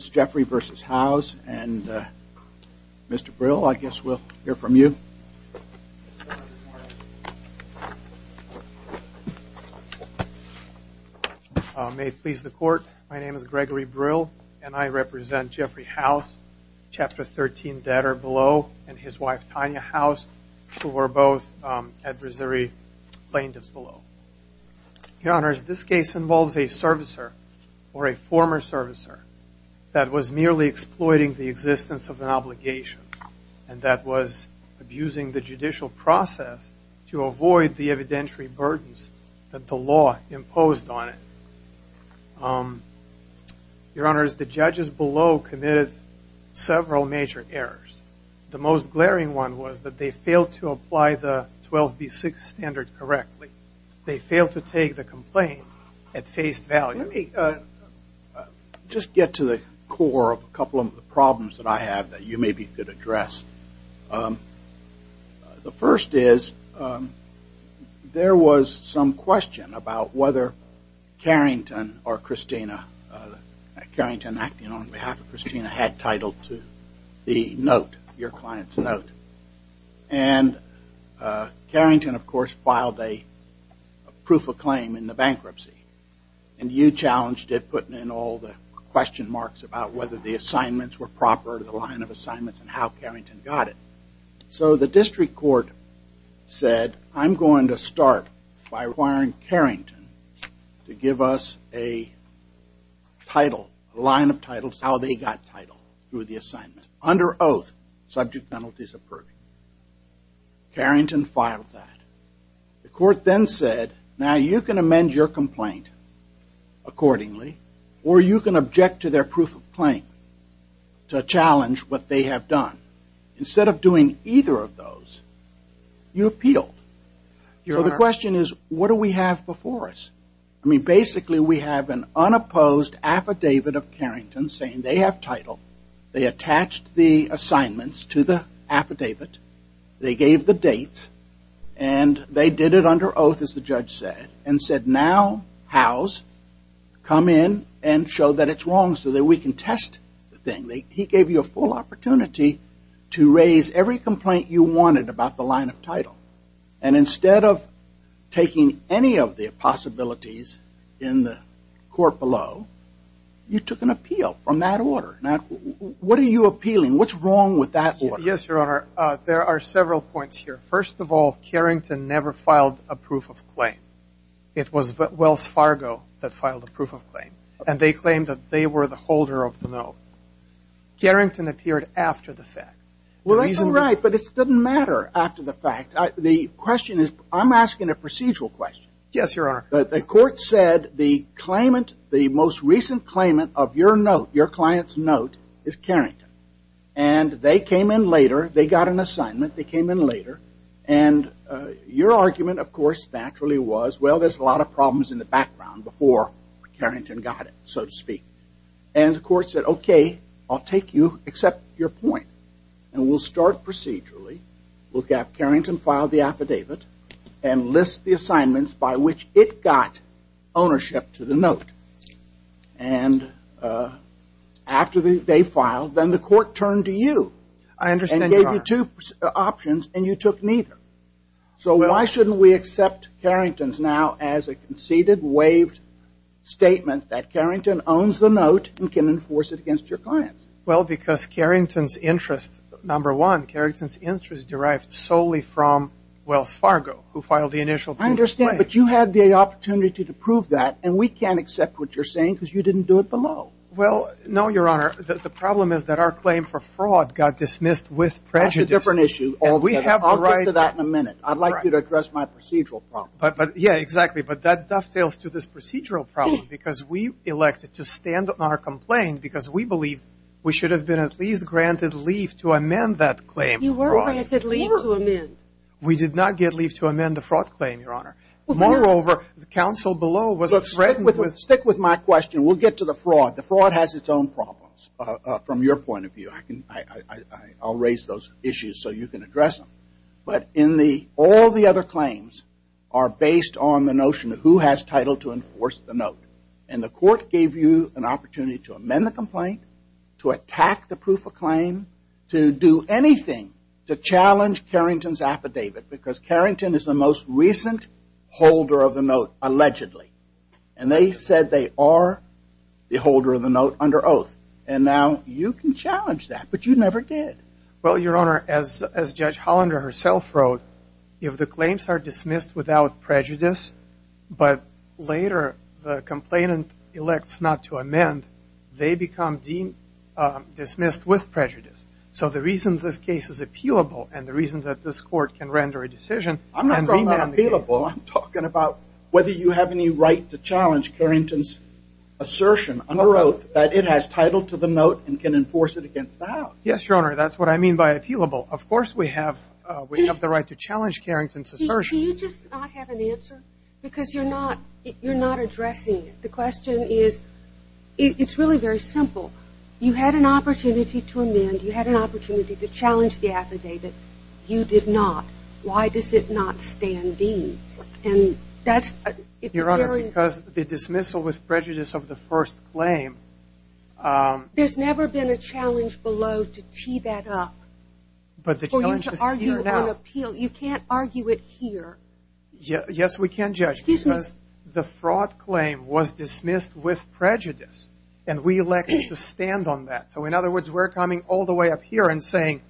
Jeffery v. Howes and Mr. Brill, I guess we'll hear from you. May it please the court, my name is Gregory Brill and I represent Jeffery Howes, Chapter 13 debtor below, and his wife Tanya Howes, who were both at Brasiri plaintiffs below. Your Honors, this case involves a servicer, or a former servicer, that was merely exploiting the existence of an obligation, and that was abusing the judicial process to avoid the evidentiary burdens that the law imposed on it. Your Honors, the judges below committed several major errors. The most glaring one was that they failed to apply the 12B6 standard correctly. They failed to take the complaint at face value. Let me just get to the core of a couple of problems that I have that you maybe could address. The first is there was some question about whether Carrington or Christina, Carrington acting on behalf of Christina, had title to the note, your client's note. And Carrington, of course, filed a proof of claim in the bankruptcy, and you challenged it, putting in all the question marks about whether the assignments were proper, the line of assignments, and how Carrington got it. So the district court said, I'm going to start by requiring Carrington to give us a title, a line of titles, how they got title through the assignment. Under oath, subject penalties approved. Carrington filed that. The court then said, now you can amend your complaint accordingly, or you can object to their proof of claim to challenge what they have done. Instead of doing either of those, you appealed. So the question is, what do we have before us? I mean, basically, we have an unopposed affidavit of Carrington saying they have title, they attached the assignments to the affidavit, they gave the date, and they did it under oath, as the judge said. And said, now, House, come in and show that it's wrong so that we can test the thing. He gave you a full opportunity to raise every complaint you wanted about the line of title. And instead of taking any of the possibilities in the court below, you took an appeal from that order. Now, what are you appealing? What's wrong with that order? Yes, Your Honor, there are several points here. First of all, Carrington never filed a proof of claim. It was Wells Fargo that filed a proof of claim. And they claimed that they were the holder of the note. Carrington appeared after the fact. Well, that's all right, but it doesn't matter after the fact. The question is, I'm asking a procedural question. Yes, Your Honor. The court said the claimant, the most recent claimant of your note, your client's note, is Carrington. And they came in later. They got an assignment. They came in later. And your argument, of course, naturally was, well, there's a lot of problems in the background before Carrington got it, so to speak. And the court said, okay, I'll take you, accept your point, and we'll start procedurally. We'll have Carrington file the affidavit and list the assignments by which it got ownership to the note. And after they filed, then the court turned to you. I understand, Your Honor. And gave you two options, and you took neither. So why shouldn't we accept Carrington's now as a conceded, waived statement that Carrington owns the note and can enforce it against your client? Well, because Carrington's interest, number one, Carrington's interest derived solely from Wells Fargo, who filed the initial proof of claim. I understand, but you had the opportunity to prove that, and we can't accept what you're saying because you didn't do it below. Well, no, Your Honor. The problem is that our claim for fraud got dismissed with prejudice. That's a different issue. I'll get to that in a minute. I'd like you to address my procedural problem. Yeah, exactly. But that dovetails to this procedural problem because we elected to stand on our complaint because we believe we should have been at least granted leave to amend that claim. You were granted leave to amend. We did not get leave to amend the fraud claim, Your Honor. Moreover, the counsel below was threatened with – Fraud has its own problems from your point of view. I'll raise those issues so you can address them. But all the other claims are based on the notion of who has title to enforce the note. And the court gave you an opportunity to amend the complaint, to attack the proof of claim, to do anything to challenge Carrington's affidavit because Carrington is the most recent holder of the note, allegedly. And they said they are the holder of the note under oath. And now you can challenge that. But you never did. Well, Your Honor, as Judge Hollander herself wrote, if the claims are dismissed without prejudice but later the complainant elects not to amend, they become dismissed with prejudice. So the reason this case is appealable and the reason that this court can render a decision – I'm talking about whether you have any right to challenge Carrington's assertion under oath that it has title to the note and can enforce it against the House. Yes, Your Honor, that's what I mean by appealable. Of course we have the right to challenge Carrington's assertion. Do you just not have an answer? Because you're not addressing it. The question is – it's really very simple. You had an opportunity to amend. You had an opportunity to challenge the affidavit. You did not. Why does it not stand in? And that's – Your Honor, because the dismissal with prejudice of the first claim – There's never been a challenge below to tee that up for you to argue on appeal. You can't argue it here. Excuse me. Because the fraud claim was dismissed with prejudice and we elected to stand on that. So in other words, we're coming all the way up here and saying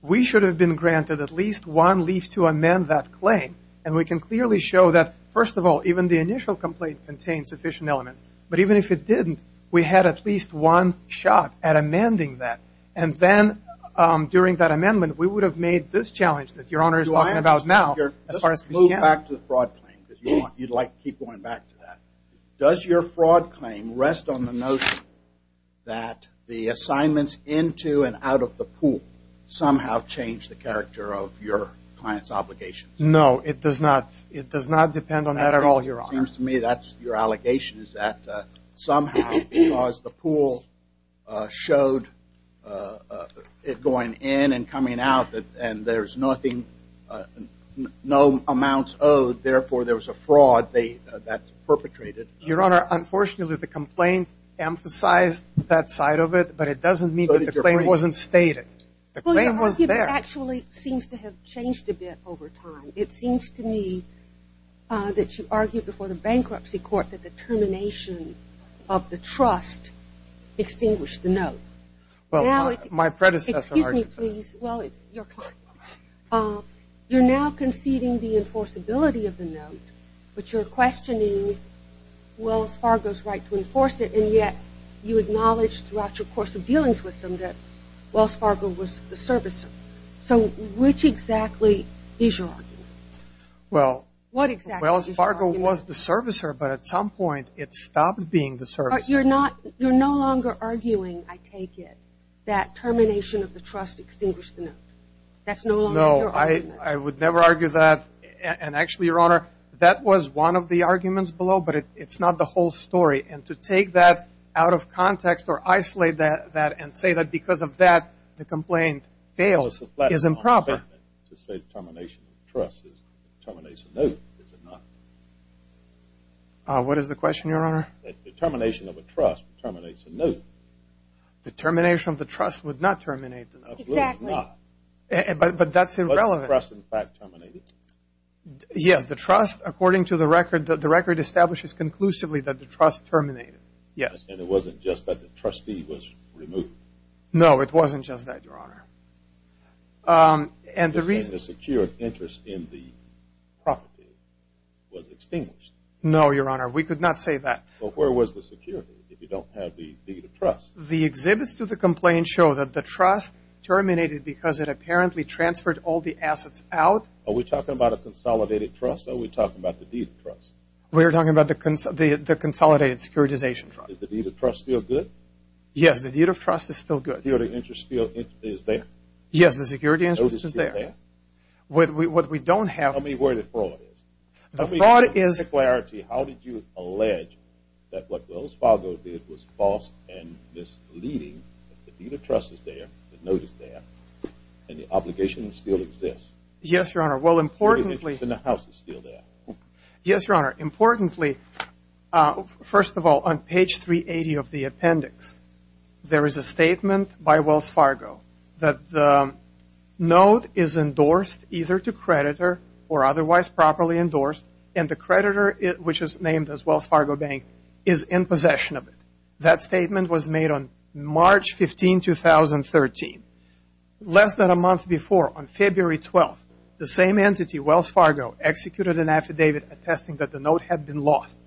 we should have been granted at least one leaf to amend that claim. And we can clearly show that, first of all, even the initial complaint contains sufficient elements. But even if it didn't, we had at least one shot at amending that. And then during that amendment, we would have made this challenge that Your Honor is talking about now. Let's move back to the fraud claim because you'd like to keep going back to that. Does your fraud claim rest on the notion that the assignments into and out of the pool somehow changed the character of your client's obligations? No, it does not. It does not depend on that at all, Your Honor. It seems to me that your allegation is that somehow because the pool showed it going in and coming out and there's nothing – no amounts owed, therefore there was a fraud that perpetrated. Your Honor, unfortunately, the complaint emphasized that side of it, but it doesn't mean that the claim wasn't stated. Well, your argument actually seems to have changed a bit over time. It seems to me that you argued before the bankruptcy court that the termination of the trust extinguished the note. Well, my predecessor argued that. Excuse me, please. Well, it's your client. You're now conceding the enforceability of the note, but you're questioning Wells Fargo's right to enforce it, and yet you acknowledge throughout your course of dealings with them that Wells Fargo was the servicer. So which exactly is your argument? Well, Wells Fargo was the servicer, but at some point it stopped being the servicer. You're not – you're no longer arguing, I take it, that termination of the trust extinguished the note. That's no longer your argument. No, I would never argue that. And actually, Your Honor, that was one of the arguments below, but it's not the whole story. And to take that out of context or isolate that and say that because of that the complaint fails is improper. To say termination of the trust terminates a note, is it not? What is the question, Your Honor? The termination of a trust terminates a note. The termination of the trust would not terminate the note. Exactly. But that's irrelevant. Was the trust, in fact, terminated? Yes, the trust, according to the record, the record establishes conclusively that the trust terminated. Yes. And it wasn't just that the trustee was removed? No, it wasn't just that, Your Honor. And the reason – And the secure interest in the property was extinguished? No, Your Honor, we could not say that. Well, where was the security if you don't have the deed of trust? The exhibits to the complaint show that the trust terminated because it apparently transferred all the assets out. Are we talking about a consolidated trust or are we talking about the deed of trust? We are talking about the consolidated securitization trust. Does the deed of trust feel good? Yes, the deed of trust is still good. The security interest is there? Yes, the security interest is there. Notice that? What we don't have – Tell me where the fraud is. The fraud is – How did you allege that what Wells Fargo did was false and misleading, that the deed of trust is there, the note is there, and the obligation still exists? Yes, Your Honor. Well, importantly – The security interest in the house is still there? Yes, Your Honor. Importantly, first of all, on page 380 of the appendix, there is a statement by Wells Fargo that the note is endorsed either to creditor or otherwise properly endorsed, and the creditor, which is named as Wells Fargo Bank, is in possession of it. That statement was made on March 15, 2013. Less than a month before, on February 12, the same entity, Wells Fargo, executed an affidavit attesting that the note had been lost.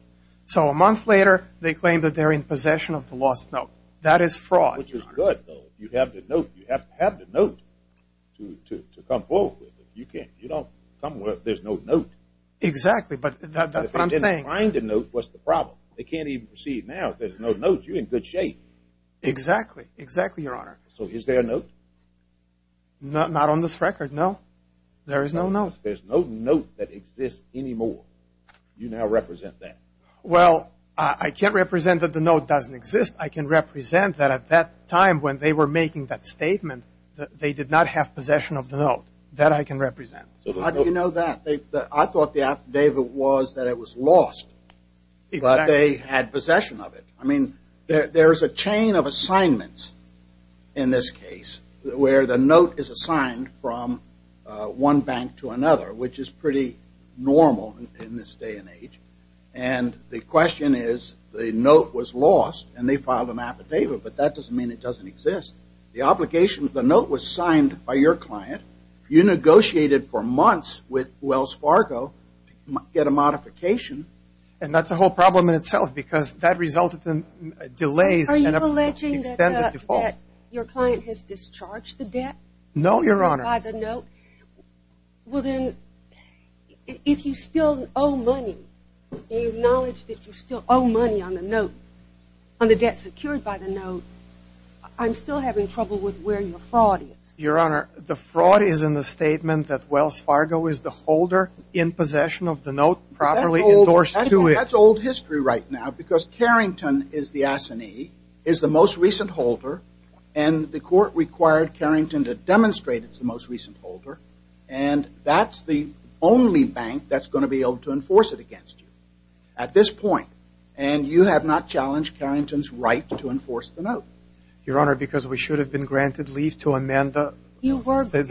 So a month later, they claim that they're in possession of the lost note. That is fraud, Your Honor. Which is good, though. You have the note. You have to have the note to come forth with it. You can't – you don't come with – there's no note. Exactly, but that's what I'm saying. If they didn't find the note, what's the problem? They can't even see it now. If there's no note, you're in good shape. Exactly. Exactly, Your Honor. So is there a note? Not on this record, no. There is no note. There's no note that exists anymore. You now represent that. Well, I can't represent that the note doesn't exist. I can represent that at that time when they were making that statement, they did not have possession of the note. That I can represent. How do you know that? I thought the affidavit was that it was lost, but they had possession of it. I mean, there's a chain of assignments in this case where the note is assigned from one bank to another, which is pretty normal in this day and age. And the question is the note was lost and they filed an affidavit, but that doesn't mean it doesn't exist. The obligation – the note was signed by your client. You negotiated for months with Wells Fargo to get a modification. And that's a whole problem in itself because that resulted in delays. Are you alleging that your client has discharged the debt? No, Your Honor. By the note. Well, then, if you still owe money and you acknowledge that you still owe money on the note, on the debt secured by the note, I'm still having trouble with where your fraud is. Your Honor, the fraud is in the statement that Wells Fargo is the holder in possession of the note properly endorsed to it. That's old history right now because Carrington is the assignee, is the most recent holder, and the court required Carrington to demonstrate it's the most recent holder. And that's the only bank that's going to be able to enforce it against you at this point. And you have not challenged Carrington's right to enforce the note. Your Honor, because we should have been granted leave to amend the fraud claim. You were granted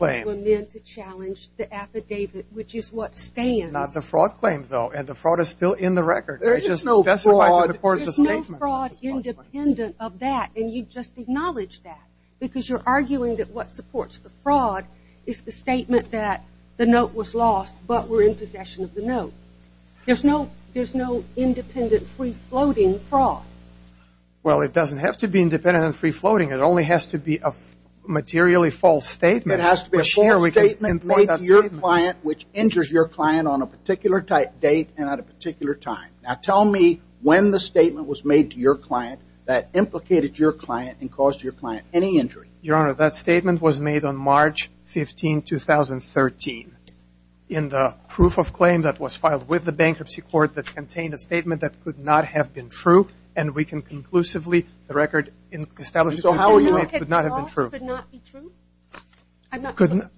leave to amend to challenge the affidavit, which is what stands. It's not the fraud claim, though, and the fraud is still in the record. There is no fraud. I just specified to the court the statement. There's no fraud independent of that, and you just acknowledged that because you're arguing that what supports the fraud is the statement that the note was lost but we're in possession of the note. There's no independent free-floating fraud. Well, it doesn't have to be independent and free-floating. It only has to be a materially false statement. It has to be a statement made to your client which injures your client on a particular date and at a particular time. Now tell me when the statement was made to your client that implicated your client and caused your client any injury. Your Honor, that statement was made on March 15, 2013, in the proof of claim that was filed with the bankruptcy court that contained a statement that could not have been true, and we can conclusively, the record establishes Could not be true?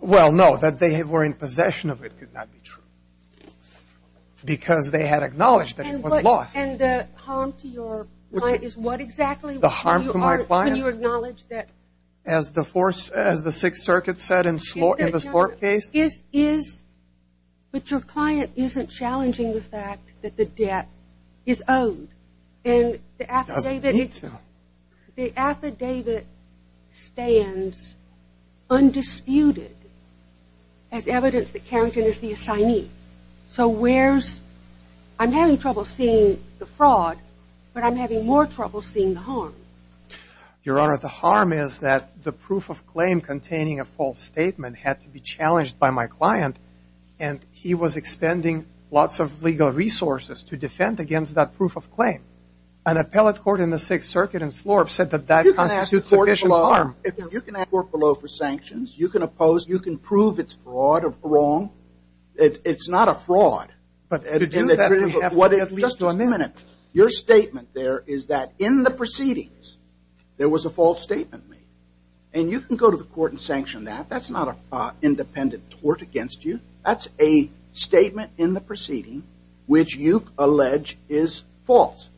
Well, no, that they were in possession of it could not be true because they had acknowledged that it was lost. And the harm to your client is what exactly? The harm to my client? Can you acknowledge that? As the Sixth Circuit said in the Slorp case? But your client isn't challenging the fact that the debt is owed. It doesn't need to. The affidavit stands undisputed as evidence that Carrington is the assignee. So where's, I'm having trouble seeing the fraud, but I'm having more trouble seeing the harm. Your Honor, the harm is that the proof of claim containing a false statement had to be challenged by my client, and he was expending lots of legal resources to defend against that proof of claim. An appellate court in the Sixth Circuit in Slorp said that that constitutes sufficient harm. You can ask the court below for sanctions. You can oppose. You can prove it's fraud or wrong. It's not a fraud. But could you do that? Just a minute. Your statement there is that in the proceedings there was a false statement made, and you can go to the court and sanction that. That's not an independent tort against you. That's a statement in the proceeding which you allege is false,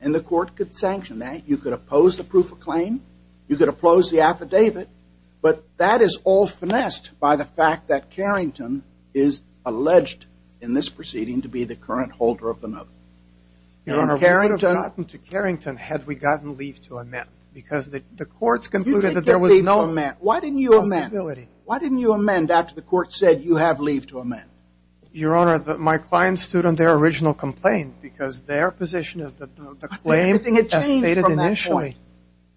and the court could sanction that. You could oppose the proof of claim. You could oppose the affidavit. But that is all finessed by the fact that Carrington is alleged in this proceeding to be the current holder of the note. Your Honor, we would have gotten to Carrington had we gotten leave to amend because the courts concluded that there was no possibility. Why didn't you amend? Why didn't you amend after the court said you have leave to amend? Your Honor, my client stood on their original complaint because their position is that the claim has stated initially.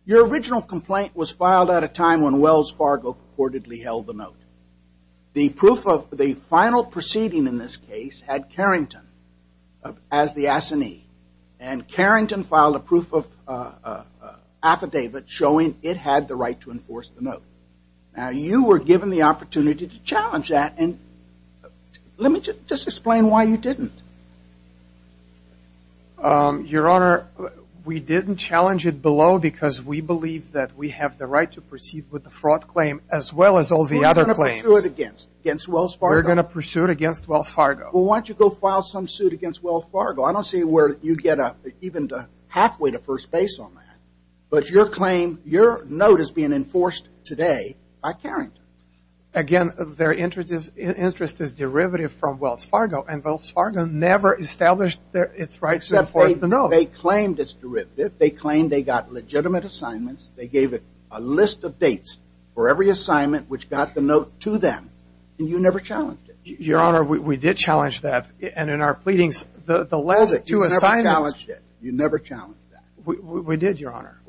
Your original complaint was filed at a time when Wells Fargo reportedly held the note. The final proceeding in this case had Carrington as the assignee, and Carrington filed a proof of affidavit showing it had the right to enforce the note. Now, you were given the opportunity to challenge that, and let me just explain why you didn't. Your Honor, we didn't challenge it below because we believe that we have the right to proceed with the fraud claim as well as all the other claims. We're going to pursue it against Wells Fargo. We're going to pursue it against Wells Fargo. Well, why don't you go file some suit against Wells Fargo? I don't see where you'd get even halfway to first base on that. But your claim, your note is being enforced today by Carrington. Again, their interest is derivative from Wells Fargo, and Wells Fargo never established its right to enforce the note. They claimed it's derivative. They claimed they got legitimate assignments. They gave it a list of dates for every assignment which got the note to them, and you never challenged it. Your Honor, we did challenge that, and in our pleadings, the last two assignments. You never challenged it. You never challenged that. We did, Your Honor.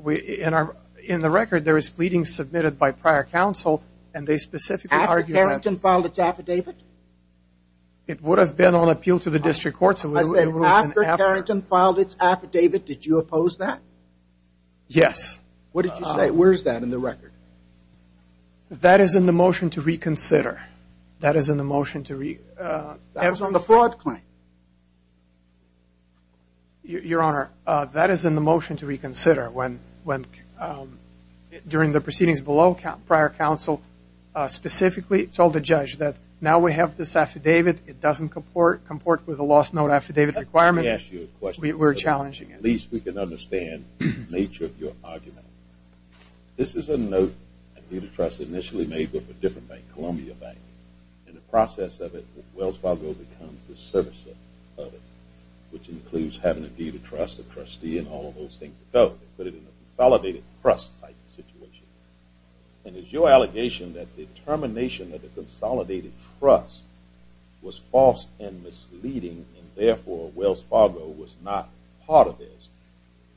In the record, there was pleadings submitted by prior counsel, and they specifically argued that. After Carrington filed its affidavit? It would have been on appeal to the district courts. I said after Carrington filed its affidavit. Did you oppose that? Yes. What did you say? Where is that in the record? That is in the motion to reconsider. That is in the motion to reconsider. That was on the fraud claim. Your Honor, that is in the motion to reconsider. During the proceedings below, prior counsel specifically told the judge that now we have this affidavit. It doesn't comport with a lost note affidavit requirement. Let me ask you a question. We were challenging it. At least we can understand the nature of your argument. This is a note that Peter Trust initially made with a different bank, Columbia Bank. In the process of it, Wells Fargo becomes the servicer of it, which includes having to give the trust, the trustee, and all of those things. They put it in a consolidated trust type situation. Is your allegation that the termination of the consolidated trust was false and misleading, and therefore Wells Fargo was not part of this,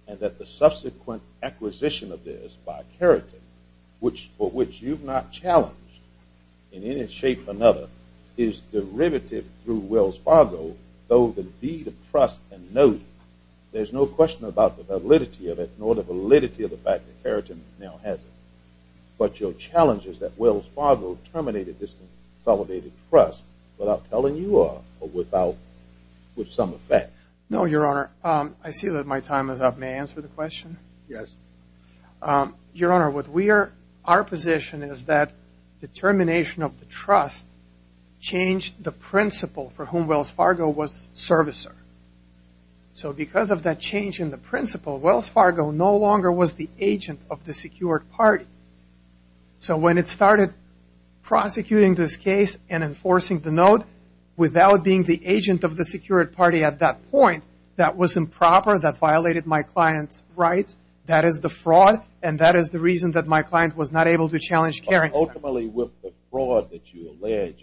and that the subsequent acquisition of this by Carrington, for which you've not challenged in any shape or another, is derivative through Wells Fargo, though the deed of trust can know you. There's no question about the validity of it, nor the validity of the fact that Carrington now has it. But your challenge is that Wells Fargo terminated this consolidated trust without telling you or without some effect. No, Your Honor. I see that my time is up. May I answer the question? Yes. Your Honor, our position is that the termination of the trust changed the principle for whom Wells Fargo was servicer. So because of that change in the principle, Wells Fargo no longer was the agent of the secured party. So when it started prosecuting this case and enforcing the note without being the agent of the secured party at that point, that was improper, that violated my client's rights. That is the fraud, and that is the reason that my client was not able to challenge Carrington. Ultimately, with the fraud that you allege,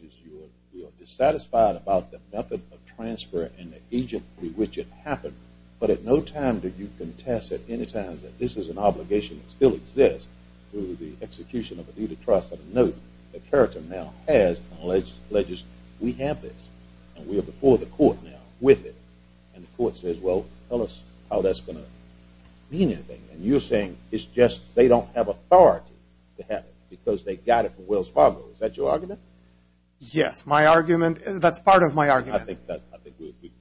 you are dissatisfied about the method of transfer and the agent with which it happened. But at no time did you contest at any time that this is an obligation that still exists through the execution of a deed of trust and a note that Carrington now has and alleges we have this, and we are before the court now with it. And the court says, well, tell us how that's going to mean anything. And you're saying it's just they don't have authority to have it because they got it from Wells Fargo. Is that your argument? Yes, my argument. That's part of my argument. I think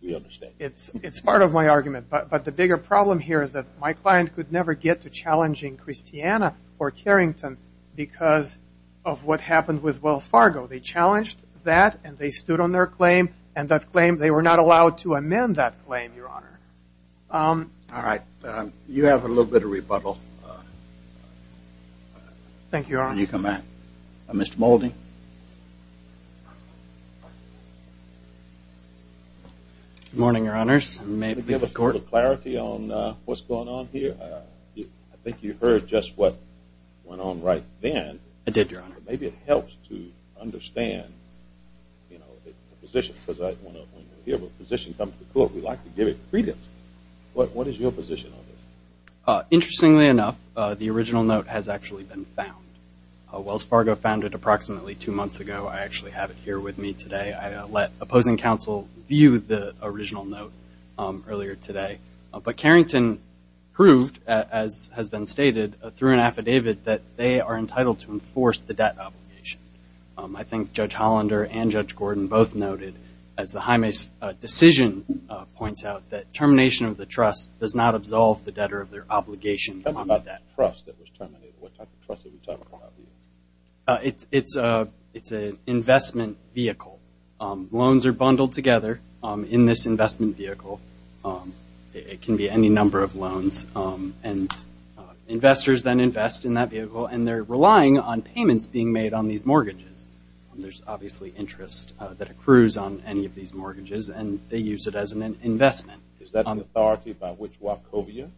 we understand. It's part of my argument, but the bigger problem here is that my client could never get to challenging Christiana or Carrington because of what happened with Wells Fargo. They challenged that, and they stood on their claim, and that claim they were not allowed to amend that claim, Your Honor. All right. You have a little bit of rebuttal. Thank you, Your Honor. Can you come back? Mr. Moulding. Good morning, Your Honors. May it please the Court? Can you give us a little clarity on what's going on here? I think you heard just what went on right then. I did, Your Honor. But maybe it helps to understand the position, because when we hear the position comes to the Court, we like to give it credence. What is your position on this? Interestingly enough, the original note has actually been found. Wells Fargo found it approximately two months ago. I actually have it here with me today. I let opposing counsel view the original note earlier today. But Carrington proved, as has been stated, through an affidavit that they are entitled to enforce the debt obligation. I think Judge Hollander and Judge Gordon both noted, as the Jaime's decision points out, that termination of the trust does not absolve the debtor of their obligation. What about that trust that was terminated? What type of trust did we talk about? It's an investment vehicle. Loans are bundled together in this investment vehicle. It can be any number of loans. Investors then invest in that vehicle, and they're relying on payments being made on these mortgages. There's obviously interest that accrues on any of these mortgages, and they use it as an investment. Is that an authority by which Wachovia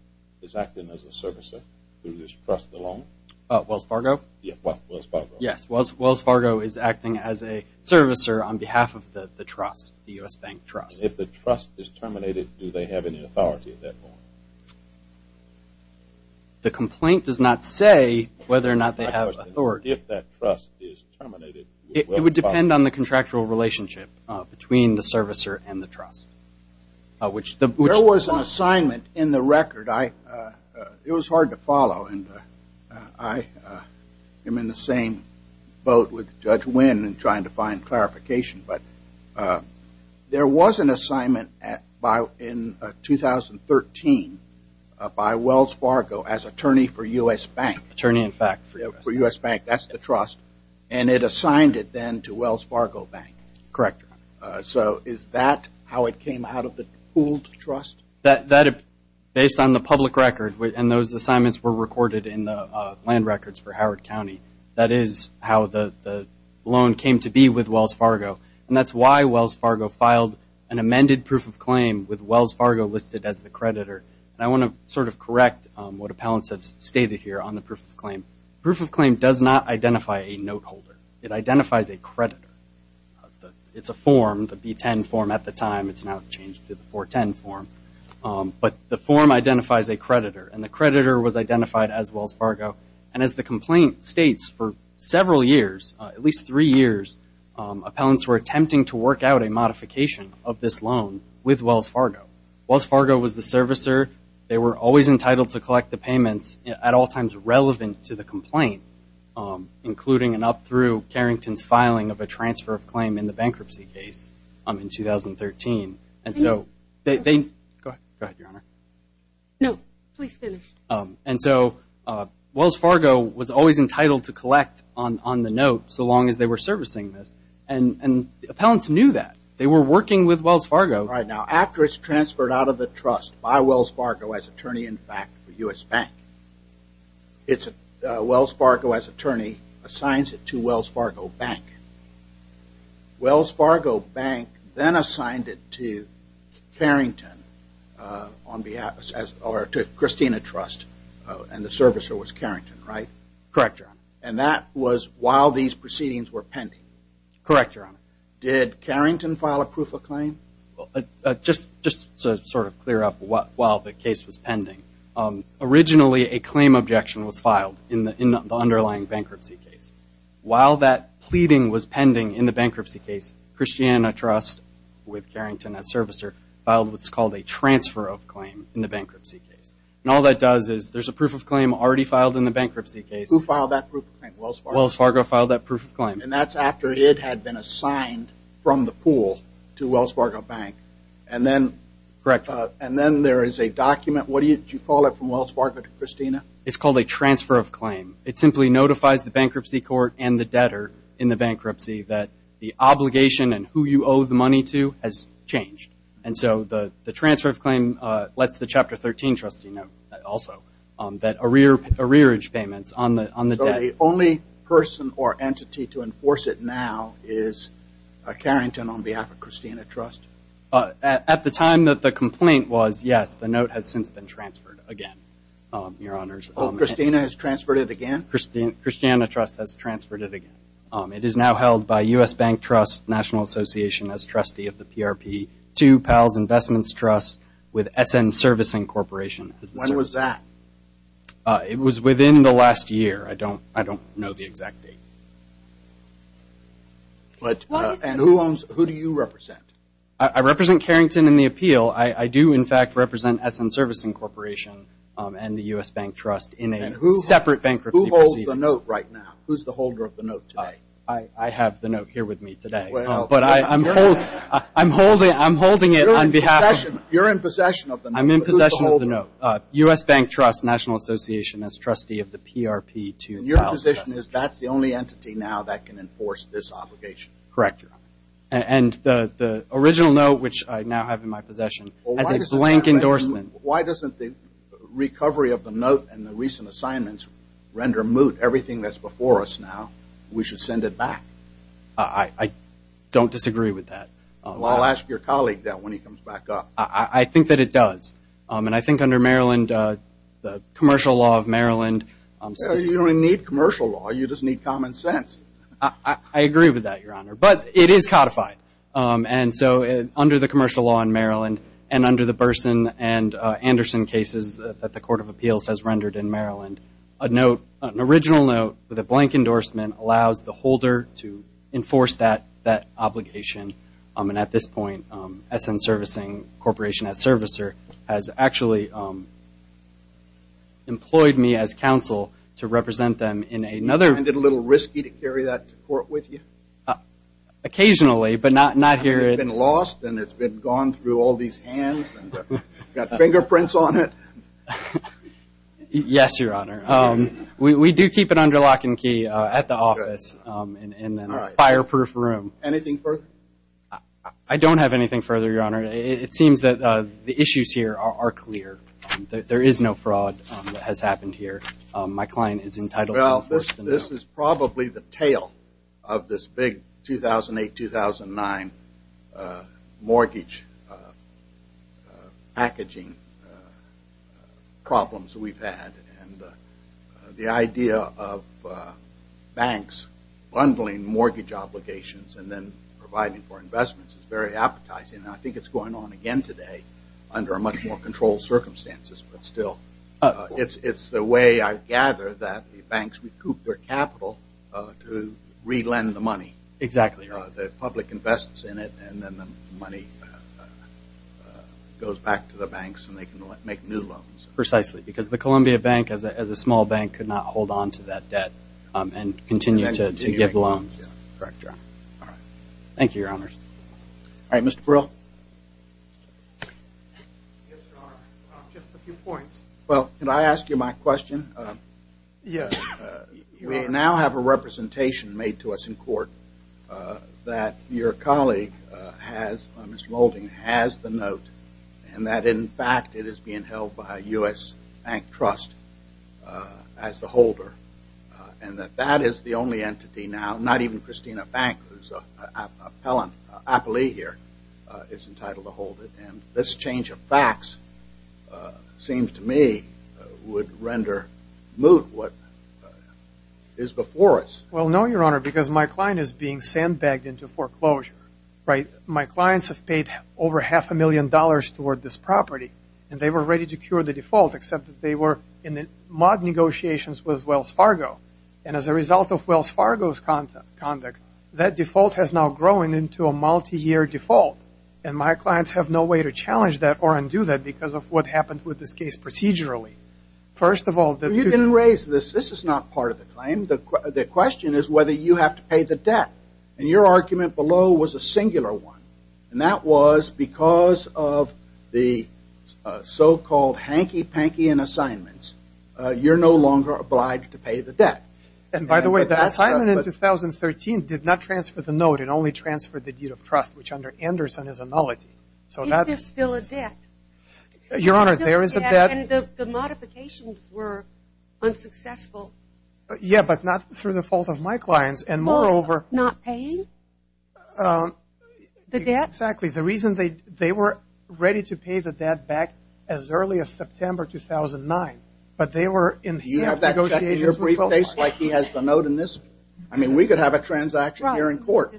is acting as a servicer through this trust alone? Wells Fargo? Yes, Wells Fargo. Yes, Wells Fargo is acting as a servicer on behalf of the trust, the U.S. Bank Trust. If the trust is terminated, do they have any authority at that point? The complaint does not say whether or not they have authority. If that trust is terminated, would Wells Fargo? It would depend on the contractual relationship between the servicer and the trust. There was an assignment in the record. It was hard to follow, and I am in the same boat with Judge Wynn in trying to find clarification. But there was an assignment in 2013 by Wells Fargo as attorney for U.S. Bank. Attorney, in fact. For U.S. Bank. That's the trust. And it assigned it then to Wells Fargo Bank. Correct. So is that how it came out of the pooled trust? Based on the public record, and those assignments were recorded in the land records for Howard County, that is how the loan came to be with Wells Fargo. And that's why Wells Fargo filed an amended proof of claim with Wells Fargo listed as the creditor. And I want to sort of correct what appellants have stated here on the proof of claim. Proof of claim does not identify a note holder. It identifies a creditor. It's a form, the B10 form at the time. It's now changed to the 410 form. But the form identifies a creditor, and the creditor was identified as Wells Fargo. And as the complaint states, for several years, at least three years, appellants were attempting to work out a modification of this loan with Wells Fargo. Wells Fargo was the servicer. They were always entitled to collect the payments at all times relevant to the complaint, including and up through Carrington's filing of a transfer of claim in the bankruptcy case in 2013. Go ahead, Your Honor. No, please finish. And so Wells Fargo was always entitled to collect on the note so long as they were servicing this. And appellants knew that. They were working with Wells Fargo. Right. Now, after it's transferred out of the trust by Wells Fargo as attorney, in fact, for U.S. Bank, Wells Fargo, as attorney, assigns it to Wells Fargo Bank. Wells Fargo Bank then assigned it to Carrington on behalf or to Christina Trust, and the servicer was Carrington, right? Correct, Your Honor. And that was while these proceedings were pending? Correct, Your Honor. Did Carrington file a proof of claim? Just to sort of clear up while the case was pending, originally a claim objection was filed in the underlying bankruptcy case. While that pleading was pending in the bankruptcy case, Christina Trust, with Carrington as servicer, filed what's called a transfer of claim in the bankruptcy case. And all that does is there's a proof of claim already filed in the bankruptcy case. Who filed that proof of claim? Wells Fargo. Wells Fargo filed that proof of claim. And that's after it had been assigned from the pool to Wells Fargo Bank. And then there is a document. What do you call it from Wells Fargo to Christina? It's called a transfer of claim. It simply notifies the bankruptcy court and the debtor in the bankruptcy that the obligation and who you owe the money to has changed. And so the transfer of claim lets the Chapter 13 trustee know also that arrearage payments on the debt. So the only person or entity to enforce it now is Carrington on behalf of Christina Trust? At the time that the complaint was, yes, the note has since been transferred again, Your Honors. Oh, Christina has transferred it again? Christina Trust has transferred it again. It is now held by U.S. Bank Trust National Association as trustee of the PRP, to Powell's Investments Trust with S.N. Servicing Corporation. When was that? It was within the last year. I don't know the exact date. And who do you represent? I represent Carrington in the appeal. I do, in fact, represent S.N. Servicing Corporation and the U.S. Bank Trust in a separate bankruptcy proceeding. And who holds the note right now? Who's the holder of the note today? I have the note here with me today. But I'm holding it on behalf of the note. You're in possession of the note. I'm in possession of the note. But who's the holder? U.S. Bank Trust National Association as trustee of the PRP to Powell's Investments Trust. And your position is that's the only entity now that can enforce this obligation? Correct, Your Honor. And the original note, which I now have in my possession, has a blank endorsement. Why doesn't the recovery of the note and the recent assignments render moot everything that's before us now? We should send it back. I don't disagree with that. Well, I'll ask your colleague that when he comes back up. I think that it does. And I think under Maryland, the commercial law of Maryland. You don't need commercial law. You just need common sense. I agree with that, Your Honor. But it is codified. And so under the commercial law in Maryland and under the Burson and Anderson cases that the Court of Appeals has rendered in Maryland, an original note with a blank endorsement allows the holder to enforce that obligation. And at this point, SN Servicing Corporation as servicer has actually employed me as counsel to represent them in another. Is it a little risky to carry that to court with you? Occasionally, but not here. It's been lost and it's been gone through all these hands and got fingerprints on it? Yes, Your Honor. We do keep it under lock and key at the office in a fireproof room. Anything further? I don't have anything further, Your Honor. It seems that the issues here are clear. There is no fraud that has happened here. My client is entitled to enforce the note. Well, this is probably the tale of this big 2008-2009 mortgage packaging problems we've had. And the idea of banks bundling mortgage obligations and then providing for investments is very appetizing. And I think it's going on again today under much more controlled circumstances. But still, it's the way I gather that the banks recoup their capital to re-lend the money. Exactly. The public invests in it and then the money goes back to the banks and they can make new loans. Precisely, because the Columbia Bank, as a small bank, could not hold on to that debt and continue to give loans. Correct, Your Honor. Thank you, Your Honors. All right, Mr. Burrill. Yes, Your Honor. Just a few points. Well, can I ask you my question? Yes. You may now have a representation made to us in court that your colleague has, Mr. Moulding, has the note and that, in fact, it is being held by a U.S. bank trust as the holder. And that that is the only entity now, not even Christina Bank, whose appellee here is entitled to hold it. And this change of facts seems to me would render moot what is before us. Well, no, Your Honor, because my client is being sandbagged into foreclosure, right? My clients have paid over half a million dollars toward this property. And they were ready to cure the default, except that they were in the mod negotiations with Wells Fargo. And as a result of Wells Fargo's conduct, that default has now grown into a multi-year default. And my clients have no way to challenge that or undo that because of what happened with this case procedurally. First of all, you didn't raise this. This is not part of the claim. The question is whether you have to pay the debt. And your argument below was a singular one. And that was because of the so-called hanky-panky in assignments, you're no longer obliged to pay the debt. And by the way, the assignment in 2013 did not transfer the note. It only transferred the deed of trust, which under Anderson is a nullity. Is there still a debt? Your Honor, there is a debt. And the modifications were unsuccessful. Yeah, but not through the fault of my clients. Not paying the debt? Exactly. The reason they were ready to pay the debt back as early as September 2009. But they were in negotiations with Wells Fargo. Do you have that briefcase like he has the note in this? I mean, we could have a transaction here in court.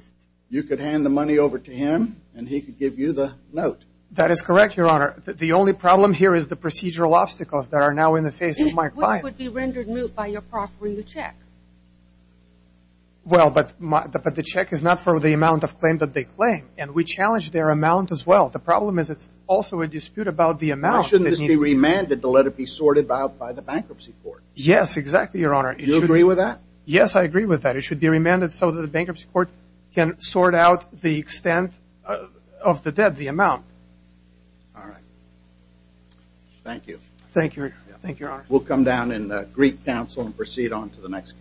You could hand the money over to him, and he could give you the note. That is correct, Your Honor. The only problem here is the procedural obstacles that are now in the face of my clients. It would be rendered moot by your proffering the check. Well, but the check is not for the amount of claim that they claim. And we challenge their amount as well. The problem is it's also a dispute about the amount. Why shouldn't this be remanded to let it be sorted out by the bankruptcy court? Yes, exactly, Your Honor. Do you agree with that? Yes, I agree with that. It should be remanded so that the bankruptcy court can sort out the extent of the debt, the amount. All right. Thank you. Thank you, Your Honor. We'll come down and greet counsel and proceed on to the next case.